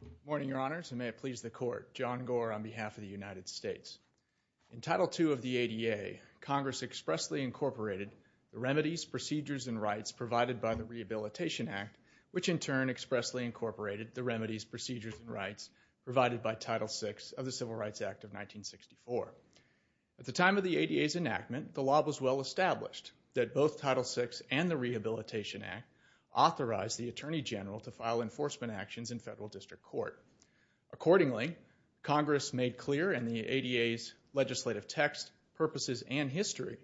Good morning, your honors, and may it please the court. John Gore on behalf of the United States. In Title II of the ADA, Congress expressly incorporated the remedies, procedures, and rights provided by the Rehabilitation Act, which in turn expressly incorporated the remedies, procedures, and rights provided by Title VI of the Civil Rights Act of 1964. At the time of the ADA's enactment, the law was well established that both Title VI and the Rehabilitation Act authorized the Attorney General to file enforcement actions in federal district court. Accordingly, Congress made clear in the ADA's legislative text, purposes, and history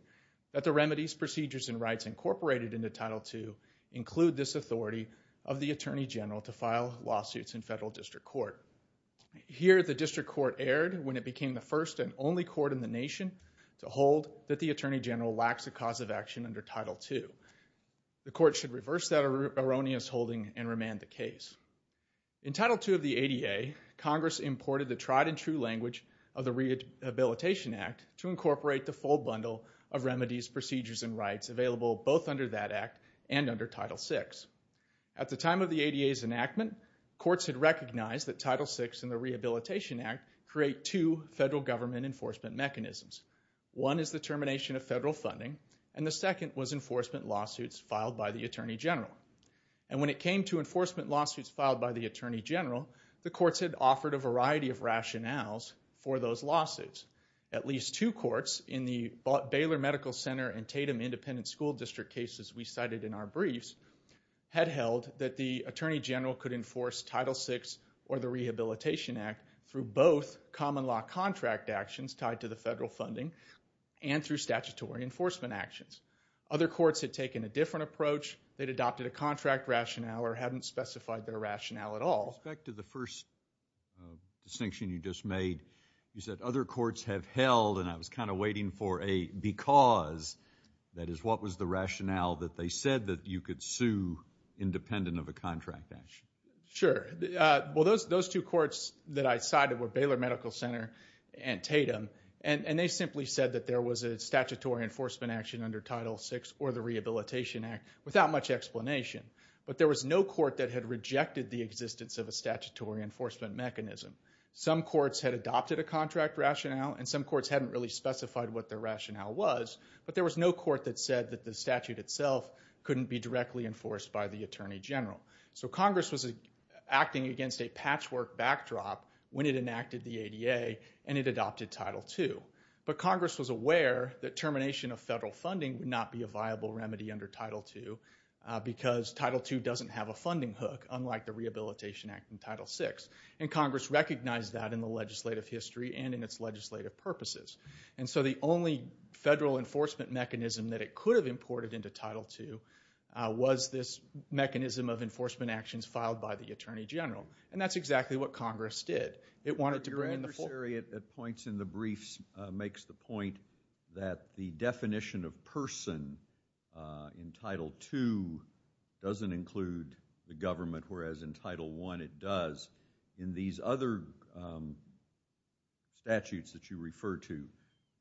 that the remedies, procedures, and rights incorporated into Title II include this authority of the federal district court. Here, the district court erred when it became the first and only court in the nation to hold that the Attorney General lacks a cause of action under Title II. The court should reverse that erroneous holding and remand the case. In Title II of the ADA, Congress imported the tried and true language of the Rehabilitation Act to incorporate the full bundle of remedies, procedures, and rights available both under that act and under Title VI. At the time of the ADA's enactment, courts had recognized that Title VI and the Rehabilitation Act create two federal government enforcement mechanisms. One is the termination of federal funding, and the second was enforcement lawsuits filed by the Attorney General. And when it came to enforcement lawsuits filed by the Attorney General, the courts had offered a variety of rationales for those lawsuits. At least two courts in the Baylor Medical Center and Tatum Independent School District cases we cited in our briefs had held that the Attorney General could enforce Title VI or the Rehabilitation Act through both common law contract actions tied to the federal funding and through statutory enforcement actions. Other courts had taken a different approach. They'd adopted a contract rationale or hadn't specified their rationale at all. Back to the first distinction you just made, you said other courts have held, and I was kind of waiting for a because. That is, what was the rationale that they said that you could sue independent of a contract action? Sure. Well, those two courts that I cited were Baylor Medical Center and Tatum, and they simply said that there was a statutory enforcement action under Title VI or the Rehabilitation Act without much explanation. But there was no court that had rejected the existence of a statutory enforcement mechanism. Some courts had adopted a contract rationale, and some courts hadn't really specified what their rationale was. But there was no court that said that the statute itself couldn't be directly enforced by the Attorney General. So Congress was acting against a patchwork backdrop when it enacted the ADA and it adopted Title II. But Congress was aware that termination of federal funding would not be a viable remedy under Title II because Title II doesn't have a funding hook, unlike the Rehabilitation Act and Title VI. And Congress recognized that in the legislative history and in its legislative purposes. And so the only federal enforcement mechanism that it could have imported into Title II was this mechanism of enforcement actions filed by the Attorney General. And that's exactly what Congress did. It wanted to bring in the full... But your adversary at points in the briefs makes the point that the definition of person in Title II doesn't include the government, whereas in Title I it does. In these other statutes that you refer to,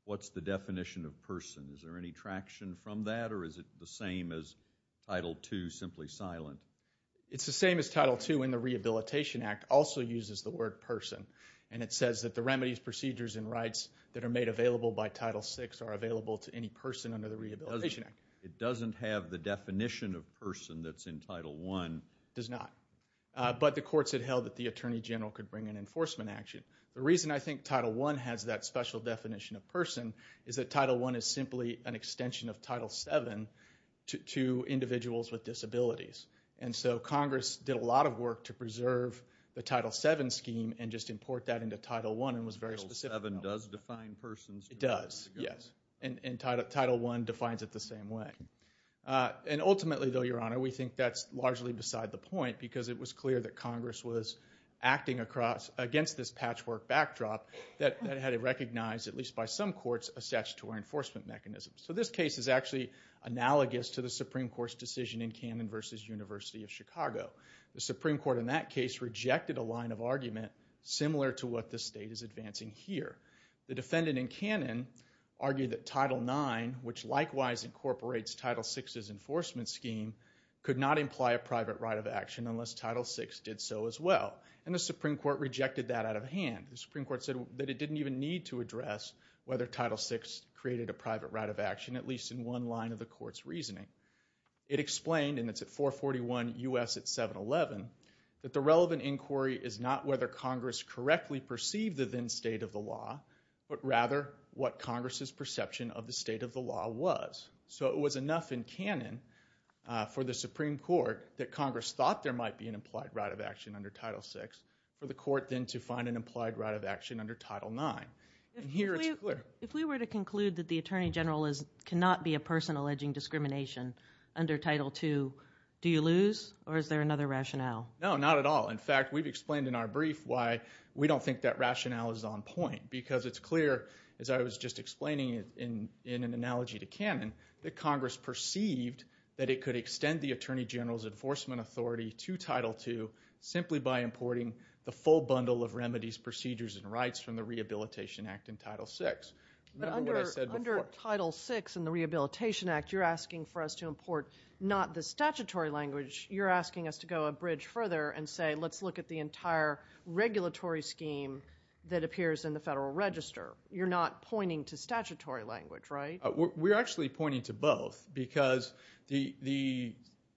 what's the definition of person? Is there any traction from that, or is it the same as Title II, simply silent? It's the same as Title II in the Rehabilitation Act also uses the word person. And it says that the remedies, procedures, and rights that are made available by Title VI are available to any person under the Rehabilitation Act. It doesn't have the definition of person that's in Title I. It does not. But the courts had held that the Attorney General could bring in enforcement action. The reason I think Title I has that special definition of person is that Title I is simply an extension of Title VII to individuals with disabilities. And so Congress did a lot of work to preserve the Title VII scheme and just import that into Title I and was very specific about it. Title VII does define persons... It does, yes. And Title I defines it the same way. And ultimately though, Your Honor, we think that's largely beside the point because it was clear that Congress was acting against this patchwork backdrop that had it recognized, at least by some courts, a statutory enforcement mechanism. So this case is actually analogous to the Supreme Court's decision in Cannon v. University of Chicago. The Supreme Court in that case rejected a line of argument similar to what the state is advancing here. The defendant in Cannon argued that Title IX, which likewise incorporates Title VI's enforcement scheme, could not imply a private right of action unless Title VI did so as well. And the Supreme Court rejected that out of hand. The Supreme Court said that it didn't even need to address whether Title VI created a private right of action, at least in one line of the court's reasoning. It explained, and it's at 441 U.S. at 711, that the relevant inquiry is not whether Congress correctly perceived the then state of the law, but rather what Congress's perception of the state of the law was. So it was enough in Cannon for the Supreme Court that Congress thought there might be an implied right of action under Title VI for the court then to find an implied right of action under Title IX. And here it's clear. If we were to conclude that the Attorney General cannot be a person alleging discrimination under Title II, do you lose or is there another rationale? No, not at all. In fact, we've explained in our brief why we don't think that rationale is on point because it's clear, as I was just explaining in an analogy to Cannon, that Congress perceived that it could extend the Attorney General's enforcement authority to Title II simply by importing the full bundle of remedies, procedures, and rights from the Rehabilitation Act in Title VI. Remember what I said before. But under Title VI in the Rehabilitation Act, you're asking for us to import not the statutory language. You're asking us to go a bridge further and say, let's look at the entire regulatory scheme that appears in the Federal Register. You're not pointing to statutory language, right? We're actually pointing to both because the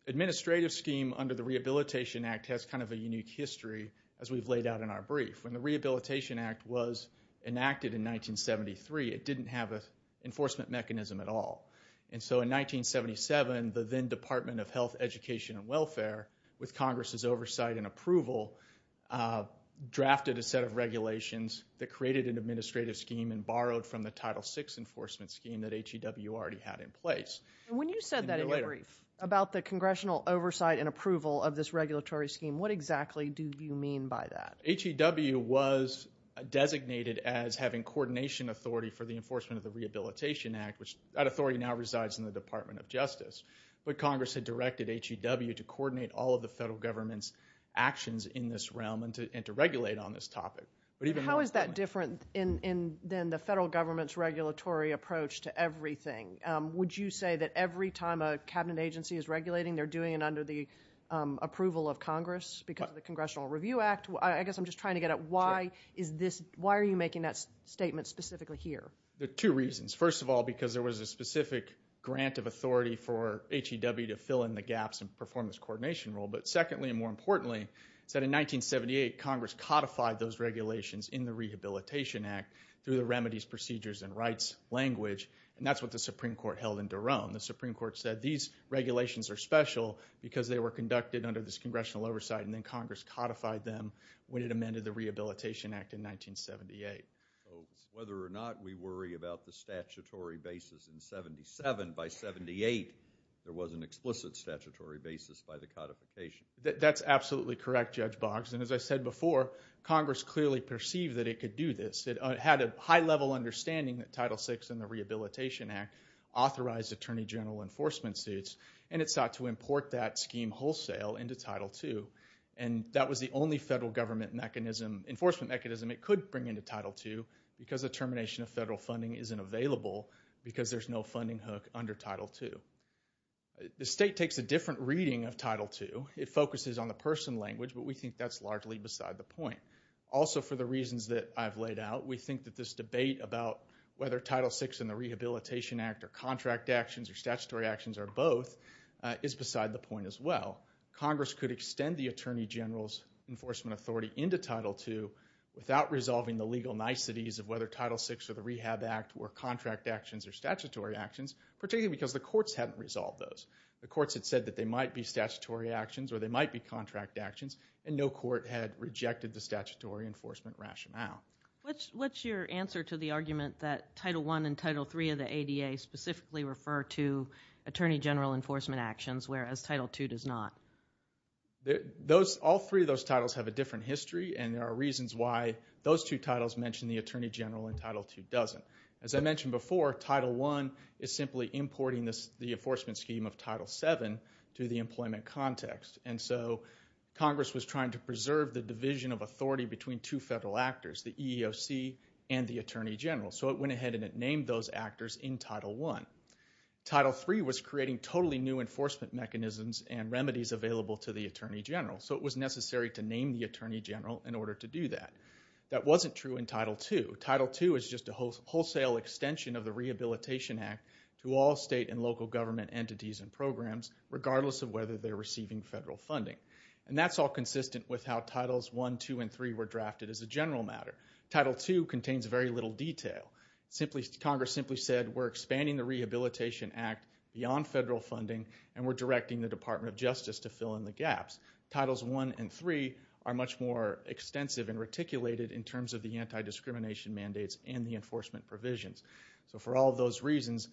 administrative scheme under the Rehabilitation Act has kind of a unique history, as we've laid out in our brief. When the Rehabilitation Act was enacted in 1973, it didn't have an enforcement mechanism at all. And so in 1977, the then Department of Health, Education, and Welfare, with Congress's oversight and approval, drafted a set of regulations that created an administrative scheme and borrowed from the Title VI enforcement scheme that HEW already had in place. When you said that in your brief about the congressional oversight and approval of this regulatory scheme, what exactly do you mean by that? HEW was designated as having coordination authority for the enforcement of the Rehabilitation Act, which that authority now resides in the Department of Justice. But Congress had directed HEW to coordinate all of the federal government's actions in this realm and to regulate on this topic. How is that different than the federal government's regulatory approach to everything? Would you say that every time a cabinet agency is regulating, they're doing it under the approval of Congress because of the Congressional Review Act? I guess I'm just trying to get at why are you making that statement specifically here? There are two reasons. First of all, because there was a specific grant of authority for HEW to fill in the gaps and perform this coordination role. But secondly, and more importantly, is that in 1978, Congress codified those regulations in the Rehabilitation Act through the Remedies, Procedures, and Rights language, and that's what the Supreme Court held in Duron. The Supreme Court said these regulations are special because they were conducted under this congressional oversight, and then Congress codified them when it amended the Rehabilitation Act in 1978. So whether or not we worry about the statutory basis in 1977, by 1978, there was an explicit statutory basis by the codification. That's absolutely correct, Judge Boggs, and as I said before, Congress clearly perceived that it could do this. It had a high-level understanding that Title VI and the Rehabilitation Act authorized attorney general enforcement suits, and it sought to import that scheme wholesale into Title II. And that was the only federal government enforcement mechanism it could bring into Title II. Because the termination of federal funding isn't available because there's no funding hook under Title II. The state takes a different reading of Title II. It focuses on the person language, but we think that's largely beside the point. Also for the reasons that I've laid out, we think that this debate about whether Title VI and the Rehabilitation Act are contract actions or statutory actions or both is beside the point as well. Congress could extend the attorney general's enforcement authority into Title II without resolving the legal niceties of whether Title VI or the Rehab Act were contract actions or statutory actions, particularly because the courts hadn't resolved those. The courts had said that they might be statutory actions or they might be contract actions, and no court had rejected the statutory enforcement rationale. What's your answer to the argument that Title I and Title III of the ADA specifically refer to attorney general enforcement actions, whereas Title II does not? All three of those titles have a different history, and there are reasons why those two titles mention the attorney general and Title II doesn't. As I mentioned before, Title I is simply importing the enforcement scheme of Title VII to the employment context, and so Congress was trying to preserve the division of authority between two federal actors, the EEOC and the attorney general. So it went ahead and it named those actors in Title I. Title III was creating totally new enforcement mechanisms and remedies available to the attorney general, so it was necessary to name the attorney general in order to do that. That wasn't true in Title II. Title II is just a wholesale extension of the Rehabilitation Act to all state and local government entities and programs, regardless of whether they're receiving federal funding. That's all consistent with how Titles I, II, and III were drafted as a general matter. Title II contains very little detail. Congress simply said, we're expanding the Rehabilitation Act beyond federal funding, and we're directing the Department of Justice to fill in the gaps. Titles I and III are much more extensive and reticulated in terms of the anti-discrimination mandates and the enforcement provisions. So for all those reasons,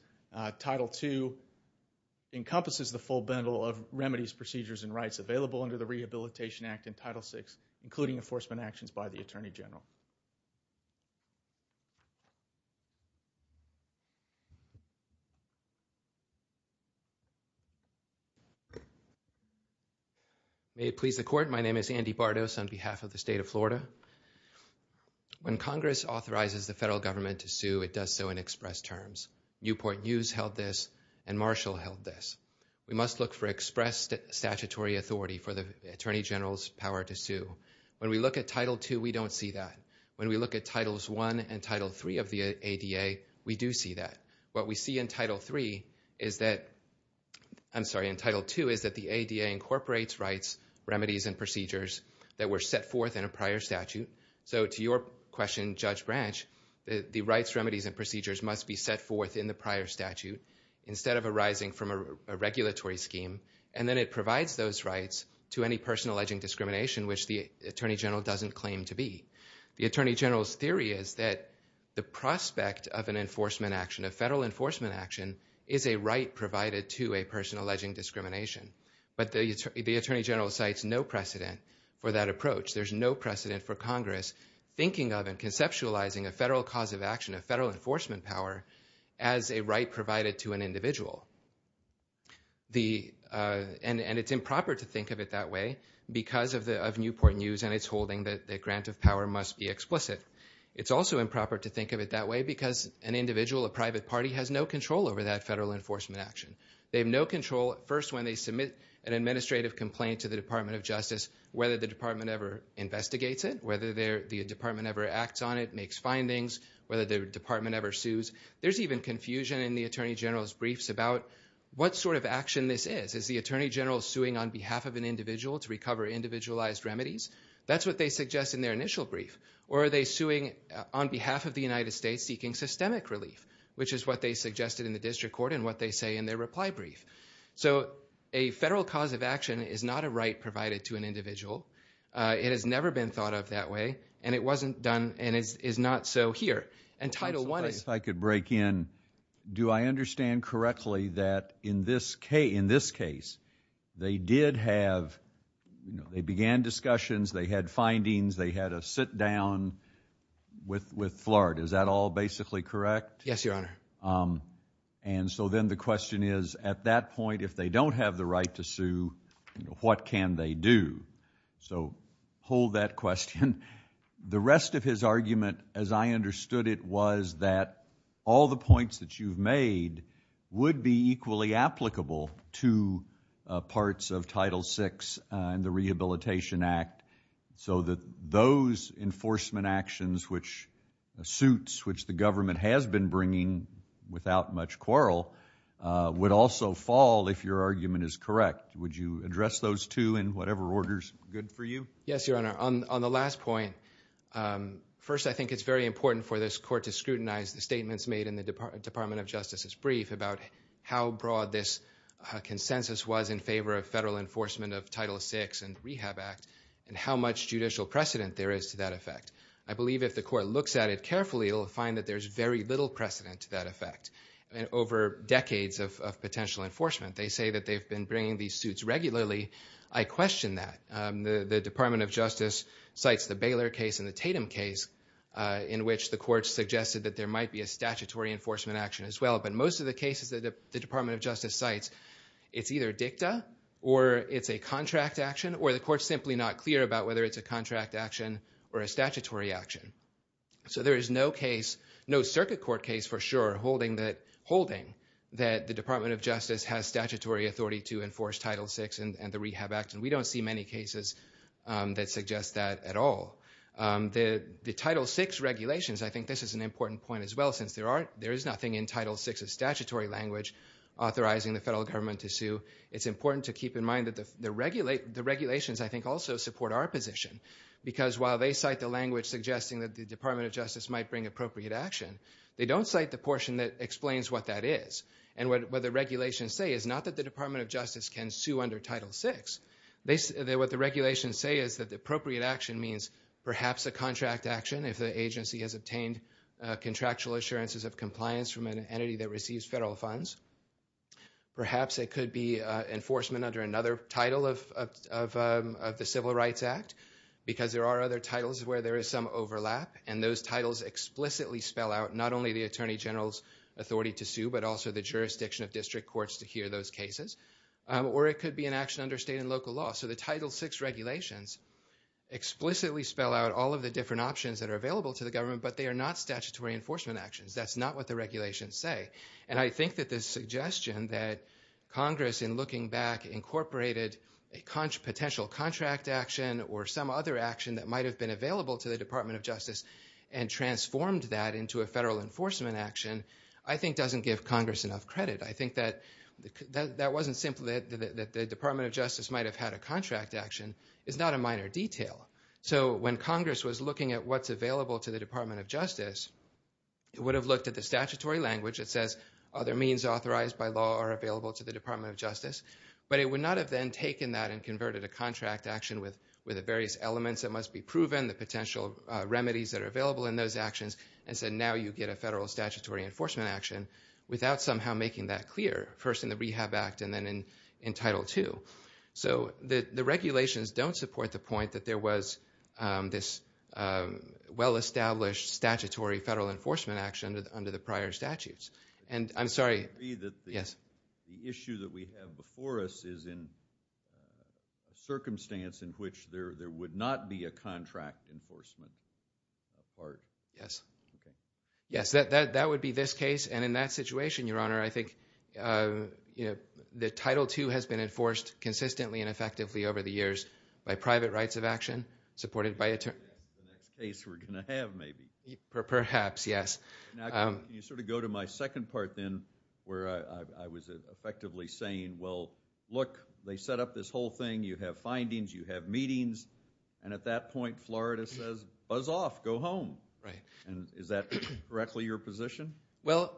Title II encompasses the full bundle of remedies, procedures, and rights available under the Rehabilitation Act in Title VI, including enforcement actions by the attorney general. May it please the Court, my name is Andy Bartos on behalf of the state of Florida. When Congress authorizes the federal government to sue, it does so in express terms. Newport News held this, and Marshall held this. We must look for express statutory authority for the attorney general's power to sue. When we look at Title II, we don't see that. When we look at Titles I and III of the ADA, we do see that. What we see in Title II is that the ADA incorporates rights, remedies, and procedures that were set forth in a prior statute. So to your question, Judge Branch, the rights, remedies, and procedures must be set forth in the prior statute instead of arising from a regulatory scheme, and then it provides those rights to any person alleging discrimination, which the attorney general doesn't claim to be. The attorney general's theory is that the prospect of an enforcement action, a federal enforcement action, is a right provided to a person alleging discrimination. But the attorney general cites no precedent for that approach. There's no precedent for Congress thinking of and conceptualizing a federal cause of action, a federal enforcement power, as a right provided to an individual. And it's improper to think of it that way because of Newport News and its holding the grant of power must be explicit. It's also improper to think of it that way because an individual, a private party, has no control over that federal enforcement action. They have no control, first, when they submit an administrative complaint to the Department of Justice, whether the department ever investigates it, whether the department ever acts on it, makes findings, whether the department ever sues. There's even confusion in the attorney general's briefs about what sort of action this is. Is the attorney general suing on behalf of an individual to recover individualized remedies? That's what they suggest in their initial brief. Or are they suing on behalf of the United States seeking systemic relief, which is what they suggested in the district court and what they say in their reply brief. So a federal cause of action is not a right provided to an individual. It has never been thought of that way, and it wasn't done and is not so here. And Title I is. If I could break in, do I understand correctly that in this case, they did have, they began discussions, they had findings, they had a sit-down with Flart. Is that all basically correct? Yes, Your Honor. And so then the question is, at that point, if they don't have the right to sue, what can they do? So hold that question. The rest of his argument, as I understood it, was that all the points that you've made would be equally applicable to parts of Title VI and the Rehabilitation Act so that those enforcement actions, which suits, which the government has been bringing without much quarrel, would also fall if your argument is correct. Would you address those two in whatever order is good for you? Yes, Your Honor. On the last point, first, I think it's very important for this court to scrutinize the brief about how broad this consensus was in favor of federal enforcement of Title VI and the Rehab Act and how much judicial precedent there is to that effect. I believe if the court looks at it carefully, it'll find that there's very little precedent to that effect. I mean, over decades of potential enforcement, they say that they've been bringing these suits regularly. I question that. The Department of Justice cites the Baylor case and the Tatum case in which the court suggested that there might be a statutory enforcement action as well, but most of the cases that the Department of Justice cites, it's either dicta or it's a contract action or the court's simply not clear about whether it's a contract action or a statutory action. So there is no circuit court case for sure holding that the Department of Justice has statutory authority to enforce Title VI and the Rehab Act, and we don't see many cases that suggest that at all. The Title VI regulations, I think this is an important point as well, since there is nothing in Title VI's statutory language authorizing the federal government to sue, it's important to keep in mind that the regulations, I think, also support our position, because while they cite the language suggesting that the Department of Justice might bring appropriate action, they don't cite the portion that explains what that is, and what the regulations say is not that the Department of Justice can sue under Title VI. What the regulations say is that the appropriate action means perhaps a contract action if the agency has obtained contractual assurances of compliance from an entity that receives federal funds. Perhaps it could be enforcement under another title of the Civil Rights Act, because there are other titles where there is some overlap, and those titles explicitly spell out not only the Attorney General's authority to sue, but also the jurisdiction of district courts to hear those cases, or it could be an action under state and local law. So the Title VI regulations explicitly spell out all of the different options that are available to the government, but they are not statutory enforcement actions. That's not what the regulations say. And I think that this suggestion that Congress, in looking back, incorporated a potential contract action or some other action that might have been available to the Department of Justice, and transformed that into a federal enforcement action, I think doesn't give Congress enough credit. I think that wasn't simply that the Department of Justice might have had a contract action. It's not a minor detail. So when Congress was looking at what's available to the Department of Justice, it would have looked at the statutory language that says other means authorized by law are available to the Department of Justice, but it would not have then taken that and converted a contract action with the various elements that must be proven, the potential remedies that are available in those actions, and said, now you get a federal statutory enforcement action without somehow making that clear, first in the Rehab Act and then in Title II. So the regulations don't support the point that there was this well-established statutory federal enforcement action under the prior statutes. And I'm sorry. Yes. The issue that we have before us is in a circumstance in which there would not be a contract enforcement part. Yes. Okay. Yes. That would be this case. And in that situation, Your Honor, I think, you know, that Title II has been enforced consistently and effectively over the years by private rights of action, supported by attorneys. That's the next case we're going to have, maybe. Perhaps, yes. Can you sort of go to my second part then, where I was effectively saying, well, look, they set up this whole thing. You have findings. You have meetings. And at that point, Florida says, buzz off. Go home. Right. And is that correctly your position? Well,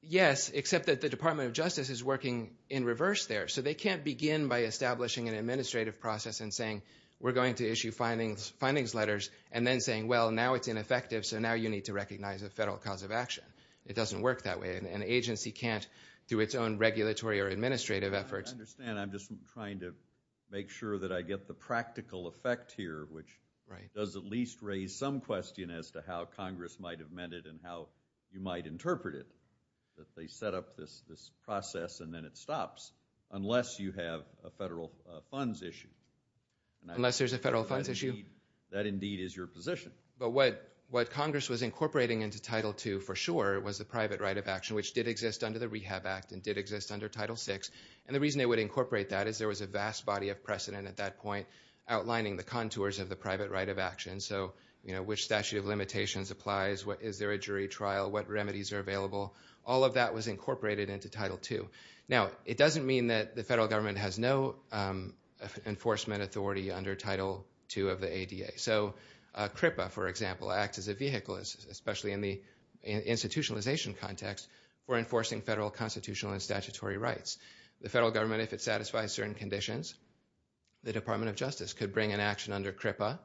yes, except that the Department of Justice is working in reverse there. So they can't begin by establishing an administrative process and saying, we're going to issue findings letters and then saying, well, now it's ineffective, so now you need to recognize a federal cause of action. It doesn't work that way. An agency can't do its own regulatory or administrative efforts. I understand. I'm just trying to make sure that I get the practical effect here, which does at least raise some question as to how Congress might have meant it and how you might interpret it, that they set up this process and then it stops, unless you have a federal funds issue. Unless there's a federal funds issue? That indeed is your position. But what Congress was incorporating into Title II, for sure, was the private right of action, which did exist under the Rehab Act and did exist under Title VI. And the reason they would incorporate that is there was a vast body of precedent at that point outlining the contours of the private right of action. So, you know, which statute of limitations applies, is there a jury trial, what remedies are available? All of that was incorporated into Title II. Now, it doesn't mean that the federal government has no enforcement authority under Title II of the ADA. So, CRIPA, for example, acts as a vehicle, especially in the institutionalization context, for enforcing federal constitutional and statutory rights. The federal government, if it satisfies certain conditions, the Department of Justice could bring an action under CRIPA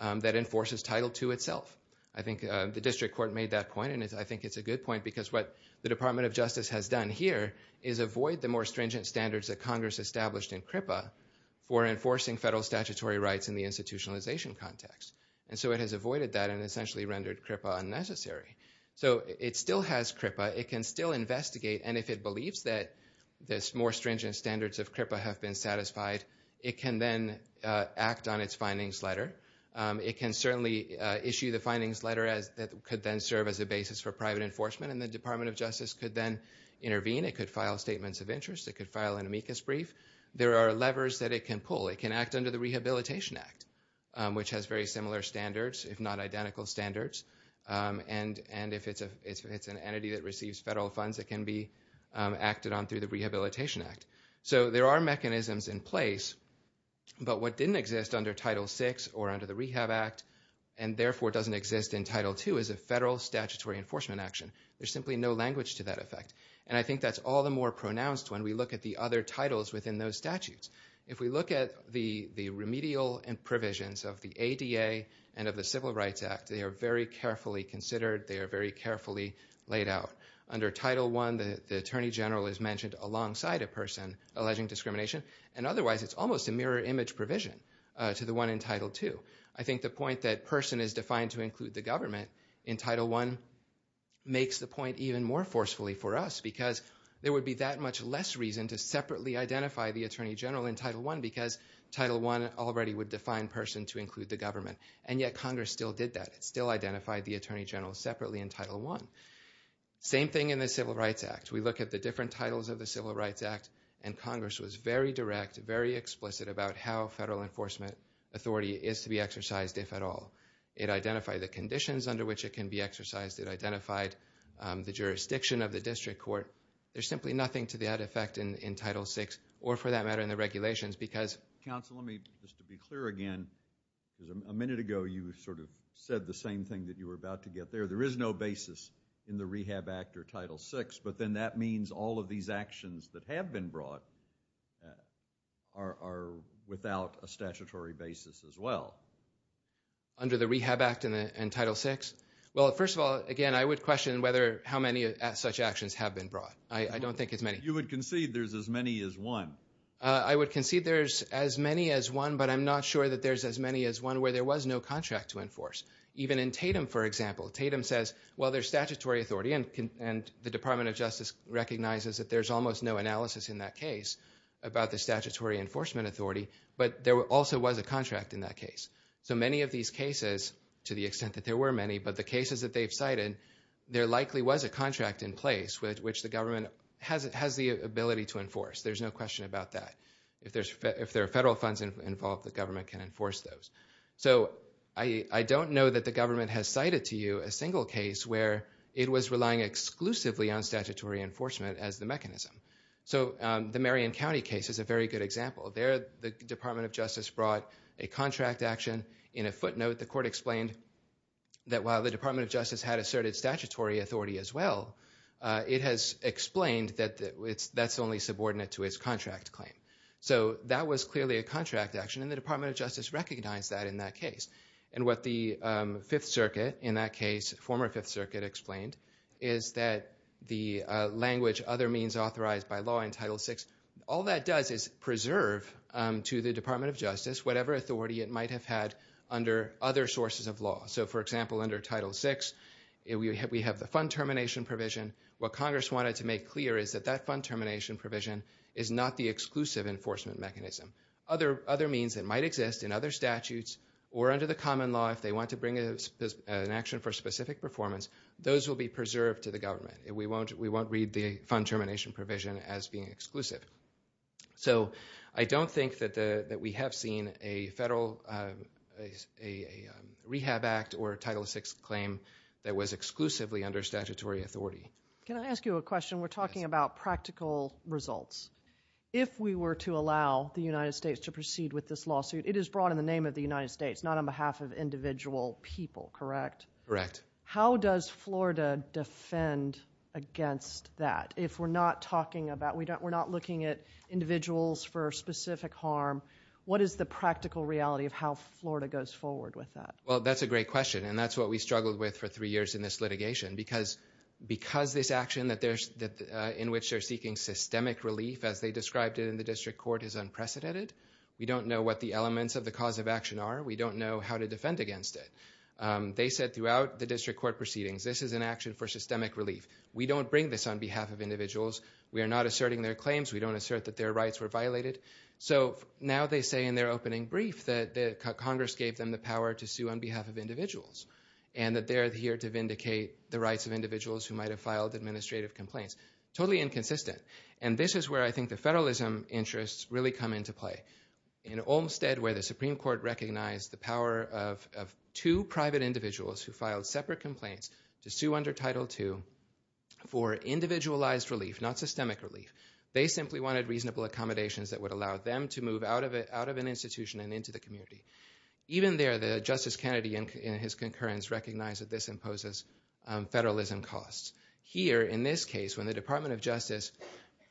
that enforces Title II itself. I think the district court made that point, and I think it's a good point, because what the Department of Justice has done here is avoid the more stringent standards that Congress established in CRIPA for enforcing federal statutory rights in the institutionalization context. And so it has avoided that and essentially rendered CRIPA unnecessary. So it still has CRIPA, it can still investigate, and if it believes that this more stringent standards of CRIPA have been satisfied, it can then act on its findings letter. It can certainly issue the findings letter that could then serve as a basis for private enforcement, and the Department of Justice could then intervene, it could file statements of interest, it could file an amicus brief. There are levers that it can pull. It can act under the Rehabilitation Act, which has very similar standards, if not identical standards. And if it's an entity that receives federal funds, it can be acted on through the Rehabilitation Act. So there are mechanisms in place, but what didn't exist under Title VI or under the Rehab Act, and therefore doesn't exist in Title II, is a federal statutory enforcement action. There's simply no language to that effect, and I think that's all the more pronounced when we look at the other titles within those statutes. If we look at the remedial and provisions of the ADA and of the Civil Rights Act, they are very carefully considered, they are very carefully laid out. Under Title I, the Attorney General is mentioned alongside a person alleging discrimination, and otherwise it's almost a mirror image provision to the one in Title II. I think the point that person is defined to include the government in Title I makes the point even more forcefully for us, because there would be that much less reason to separately identify the Attorney General in Title I, because Title I already would define person to include the government. And yet Congress still did that, it still identified the Attorney General separately in Title I. Same thing in the Civil Rights Act. We look at the different titles of the Civil Rights Act, and Congress was very direct, very explicit about how federal enforcement authority is to be exercised, if at all. It identified the conditions under which it can be exercised, it identified the jurisdiction of the district court. There's simply nothing to that effect in Title VI, or for that matter, in the regulations, because... Counsel, let me, just to be clear again, a minute ago you sort of said the same thing that you were about to get there. There is no basis in the Rehab Act or Title VI, but then that means all of these actions that have been brought are without a statutory basis as well. Under the Rehab Act and Title VI? Well, first of all, again, I would question whether, how many such actions have been brought. I don't think it's many. You would concede there's as many as one. I would concede there's as many as one, but I'm not sure that there's as many as one where there was no contract to enforce. Even in Tatum, for example, Tatum says, well, there's statutory authority, and the Department of Justice recognizes that there's almost no analysis in that case about the statutory enforcement authority, but there also was a contract in that case. So many of these cases, to the extent that there were many, but the cases that they've cited, there likely was a contract in place which the government has the ability to enforce. There's no question about that. If there are federal funds involved, the government can enforce those. So I don't know that the government has cited to you a single case where it was relying exclusively on statutory enforcement as the mechanism. So the Marion County case is a very good example. There, the Department of Justice brought a contract action. In a footnote, the court explained that while the Department of Justice had asserted statutory authority as well, it has explained that that's only subordinate to its contract claim. So that was clearly a contract action, and the Department of Justice recognized that in that case. And what the Fifth Circuit in that case, former Fifth Circuit, explained is that the language other means authorized by law in Title VI, all that does is preserve to the Department of Justice whatever authority it might have had under other sources of law. So for example, under Title VI, we have the fund termination provision. What Congress wanted to make clear is that that fund termination provision is not the exclusive enforcement mechanism. Other means that might exist in other statutes or under the common law, if they want to bring an action for specific performance, those will be preserved to the government. We won't read the fund termination provision as being exclusive. So I don't think that we have seen a federal rehab act or a Title VI claim that was exclusively under statutory authority. Can I ask you a question? Yes. We're talking about practical results. If we were to allow the United States to proceed with this lawsuit, it is brought in the name of the United States, not on behalf of individual people, correct? Correct. How does Florida defend against that if we're not talking about, we're not looking at individuals for specific harm? What is the practical reality of how Florida goes forward with that? Well, that's a great question, and that's what we struggled with for three years in this litigation, because this action in which they're seeking systemic relief, as they described it in the district court, is unprecedented. We don't know what the elements of the cause of action are. We don't know how to defend against it. They said throughout the district court proceedings, this is an action for systemic relief. We don't bring this on behalf of individuals. We are not asserting their claims. We don't assert that their rights were violated. So now they say in their opening brief that Congress gave them the power to sue on behalf of individuals, and that they're here to vindicate the rights of individuals who might have filed administrative complaints. Totally inconsistent. And this is where I think the federalism interests really come into play. In Olmstead, where the Supreme Court recognized the power of two private individuals who filed separate complaints to sue under Title II for individualized relief, not systemic relief, they simply wanted reasonable accommodations that would allow them to move out of an institution and into the community. Even there, Justice Kennedy in his concurrence recognized that this imposes federalism costs. Here, in this case, when the Department of Justice,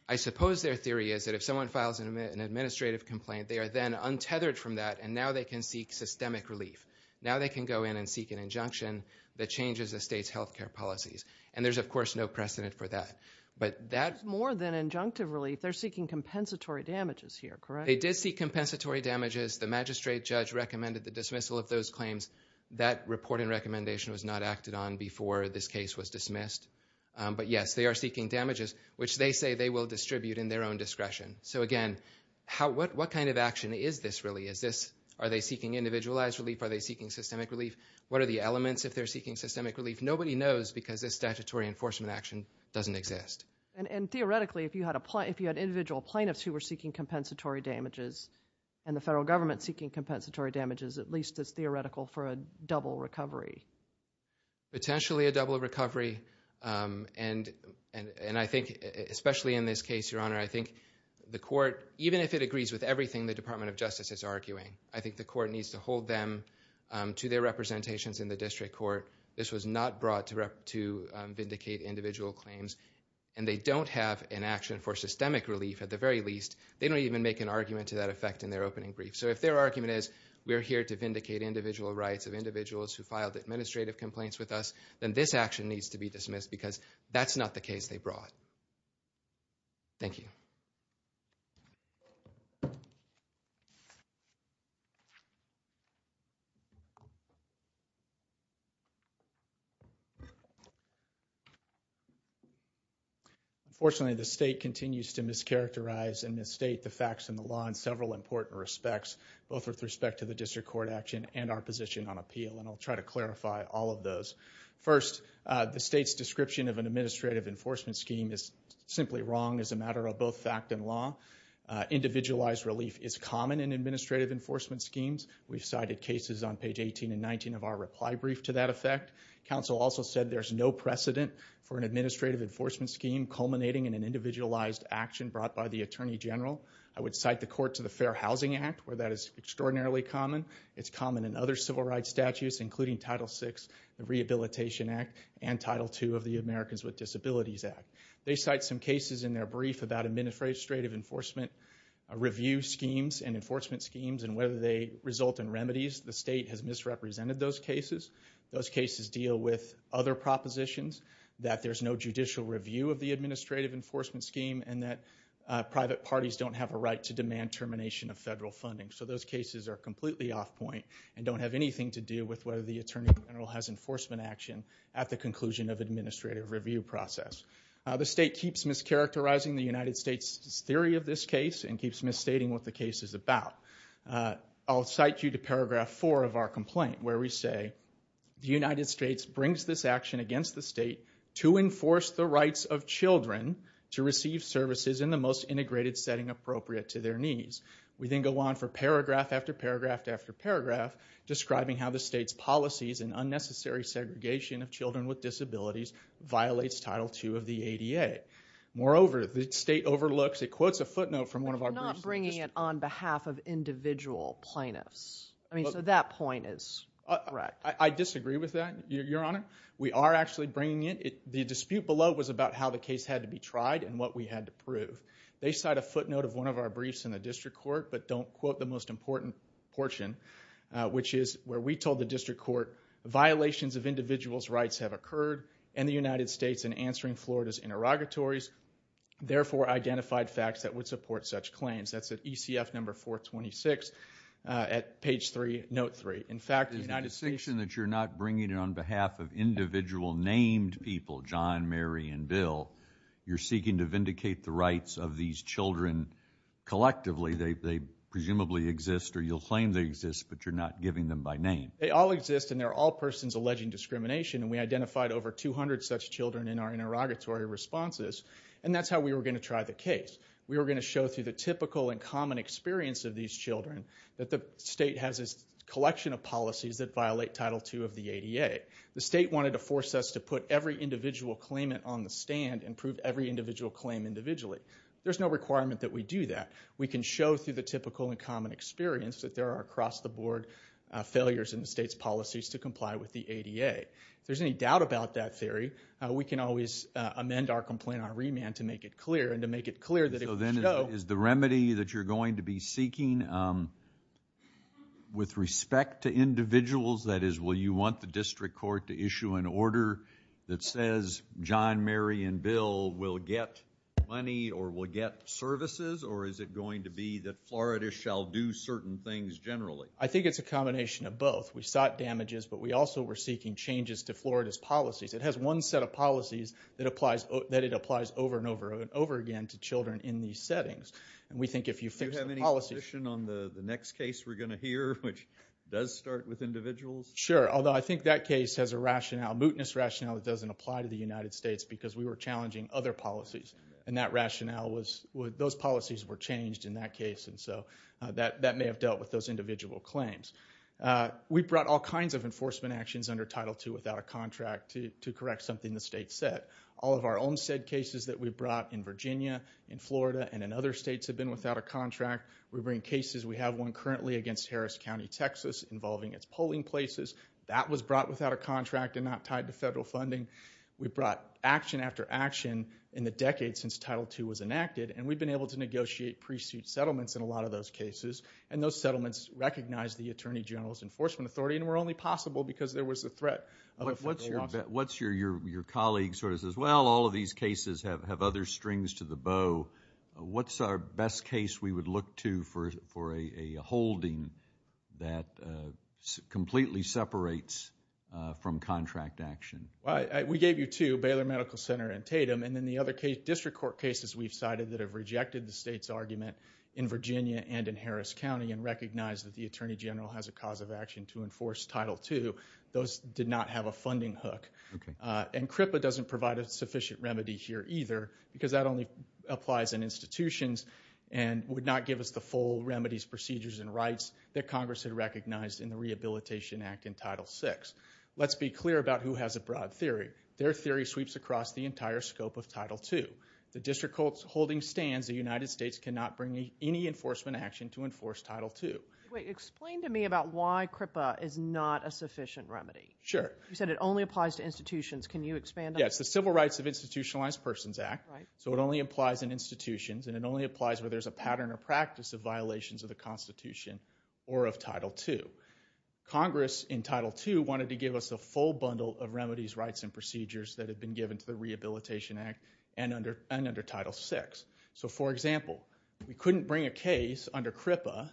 I suppose their theory is that if someone files an administrative complaint, they are then untethered from that, and now they can seek systemic relief. Now they can go in and seek an injunction that changes the state's health care policies. And there's of course no precedent for that. But that's more than injunctive relief. They're seeking compensatory damages here, correct? They did seek compensatory damages. The magistrate judge recommended the dismissal of those claims. That report and recommendation was not acted on before this case was dismissed. But yes, they are seeking damages, which they say they will distribute in their own discretion. So again, what kind of action is this really? Are they seeking individualized relief? Are they seeking systemic relief? What are the elements if they're seeking systemic relief? Nobody knows because this statutory enforcement action doesn't exist. And theoretically, if you had individual plaintiffs who were seeking compensatory damages and the federal government seeking compensatory damages, at least it's theoretical for a double recovery. Potentially a double recovery. And I think, especially in this case, Your Honor, I think the court, even if it agrees with everything the Department of Justice is arguing, I think the court needs to hold them to their representations in the district court. This was not brought to vindicate individual claims. And they don't have an action for systemic relief at the very least. They don't even make an argument to that effect in their opening brief. So if their argument is, we're here to vindicate individual rights of individuals who filed administrative complaints with us, then this action needs to be dismissed because that's not the case they brought. Thank you. Unfortunately, the state continues to mischaracterize and misstate the facts in the law in several important respects, both with respect to the district court action and our position on appeal. And I'll try to clarify all of those. First, the state's description of an administrative enforcement scheme is simply wrong as a matter of both fact and law. Individualized relief is common in administrative enforcement schemes. We've cited cases on page 18 and 19 of our reply brief to that effect. Counsel also said there's no precedent for an administrative enforcement scheme culminating in an individualized action brought by the Attorney General. I would cite the court to the Fair Housing Act, where that is extraordinarily common. It's common in other civil rights statutes, including Title VI, the Rehabilitation Act, and Title II of the Americans with Disabilities Act. They cite some cases in their brief about administrative enforcement review schemes and enforcement schemes and whether they result in remedies. The state has misrepresented those cases. Those cases deal with other propositions, that there's no judicial review of the administrative enforcement scheme, and that private parties don't have a right to demand termination of federal funding. So those cases are completely off point and don't have anything to do with whether the The state keeps mischaracterizing the United States' theory of this case and keeps misstating what the case is about. I'll cite you to paragraph four of our complaint, where we say, the United States brings this action against the state to enforce the rights of children to receive services in the most integrated setting appropriate to their needs. We then go on for paragraph after paragraph after paragraph describing how the state's Moreover, the state overlooks, it quotes a footnote from one of our briefs. But you're not bringing it on behalf of individual plaintiffs. I mean, so that point is correct. I disagree with that, Your Honor. We are actually bringing it. The dispute below was about how the case had to be tried and what we had to prove. They cite a footnote of one of our briefs in the district court, but don't quote the most important portion, which is where we told the district court, violations of individuals' rights have occurred in the United States in answering Florida's interrogatories, therefore identified facts that would support such claims. That's at ECF number 426 at page three, note three. In fact, the United States There's a distinction that you're not bringing it on behalf of individual named people, John, Mary, and Bill. You're seeking to vindicate the rights of these children collectively. They presumably exist, or you'll claim they exist, but you're not giving them by name. They all exist, and they're all persons alleging discrimination, and we identified over 200 such children in our interrogatory responses, and that's how we were going to try the case. We were going to show through the typical and common experience of these children that the state has a collection of policies that violate Title II of the ADA. The state wanted to force us to put every individual claimant on the stand and prove every individual claim individually. There's no requirement that we do that. We can show through the typical and common experience that there are across the board failures in the state's policies to comply with the ADA. If there's any doubt about that theory, we can always amend our complaint on remand to make it clear, and to make it clear that if we show So then is the remedy that you're going to be seeking with respect to individuals, that is, will you want the district court to issue an order that says John, Mary, and Bill will get money or will get services, or is it going to be that Florida shall do certain things generally? I think it's a combination of both. We sought damages, but we also were seeking changes to Florida's policies. It has one set of policies that it applies over and over and over again to children in these settings, and we think if you fix the policies Do you have any position on the next case we're going to hear, which does start with individuals? Sure, although I think that case has a rationale, a mootness rationale, that doesn't apply to the United States because we were challenging other policies, and that rationale was, those policies were changed in that case, and so that may have dealt with those individual claims. We brought all kinds of enforcement actions under Title II without a contract to correct something the state said. All of our Olmstead cases that we brought in Virginia, in Florida, and in other states have been without a contract. We bring cases. We have one currently against Harris County, Texas, involving its polling places. That was brought without a contract and not tied to federal funding. We brought action after action in the decades since Title II was enacted, and we've been able to negotiate pre-suit settlements in a lot of those cases, and those settlements recognize the Attorney General's Enforcement Authority and were only possible because there was a threat of a federal lawsuit. What's your colleague sort of says, Well, all of these cases have other strings to the bow. What's our best case we would look to for a holding that completely separates from contract action? We gave you two, Baylor Medical Center and Tatum, and then the other district court cases we've cited that have rejected the state's argument in Virginia and in Harris County and recognize that the Attorney General has a cause of action to enforce Title II. Those did not have a funding hook. And CRIPA doesn't provide a sufficient remedy here either because that only applies in institutions and would not give us the full remedies, procedures, and rights that Congress had recognized in the Rehabilitation Act in Title VI. Let's be clear about who has a broad theory. Their theory sweeps across the entire scope of Title II. The district holding stands the United States cannot bring any enforcement action to enforce Title II. Wait, explain to me about why CRIPA is not a sufficient remedy. Sure. You said it only applies to institutions. Can you expand on that? Yes, the Civil Rights of Institutionalized Persons Act. So it only applies in institutions, and it only applies where there's a pattern or practice of violations of the Constitution or of Title II. Congress, in Title II, wanted to give us a full bundle of remedies, rights, and procedures that had been given to the Rehabilitation Act and under Title VI. So, for example, we couldn't bring a case under CRIPA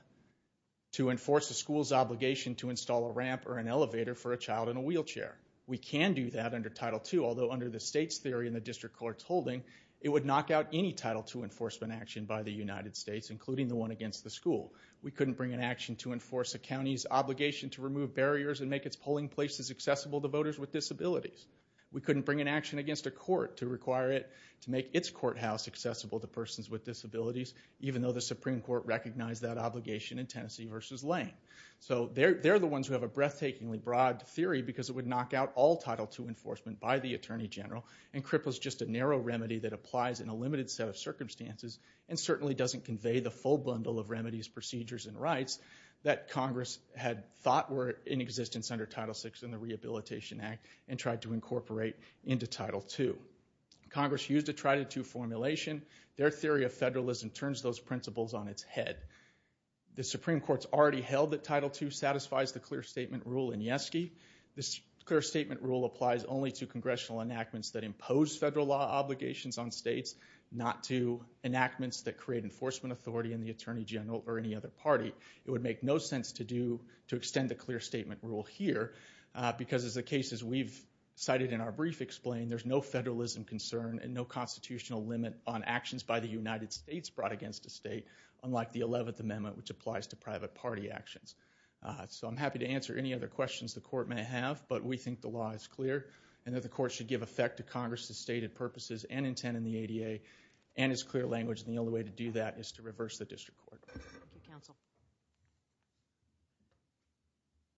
to enforce a school's obligation to install a ramp or an elevator for a child in a wheelchair. We can do that under Title II, although under the state's theory and the district court's holding, it would knock out any Title II enforcement action by the United States, including the one against the school. We couldn't bring an action to enforce a county's obligation to remove barriers and make its polling places accessible to voters with disabilities. We couldn't bring an action against a court to require it to make its courthouse accessible to persons with disabilities, even though the Supreme Court recognized that obligation in Tennessee v. Lane. So they're the ones who have a breathtakingly broad theory because it would knock out all Title II enforcement by the Attorney General, and CRIPA is just a narrow remedy that applies in a limited set of circumstances and certainly doesn't convey the full bundle of remedies, procedures, and rights that Congress had thought were in existence under Title VI in the Rehabilitation Act and tried to incorporate into Title II. Congress used a try-to-do formulation. Their theory of federalism turns those principles on its head. The Supreme Court's already held that Title II satisfies the clear statement rule in YESGI. This clear statement rule applies only to congressional enactments that impose federal law obligations on states, not to enactments that create enforcement authority in the Attorney General or any other party. It would make no sense to extend the clear statement rule here because, as the cases we've cited in our brief explain, there's no federalism concern and no constitutional limit on actions by the United States brought against a state, unlike the 11th Amendment, which applies to private party actions. So I'm happy to answer any other questions the Court may have, but we think the law is clear and that the Court should give effect to Congress' stated purposes and intent in the ADA and its clear language, and the only way to do that is to reverse the district court.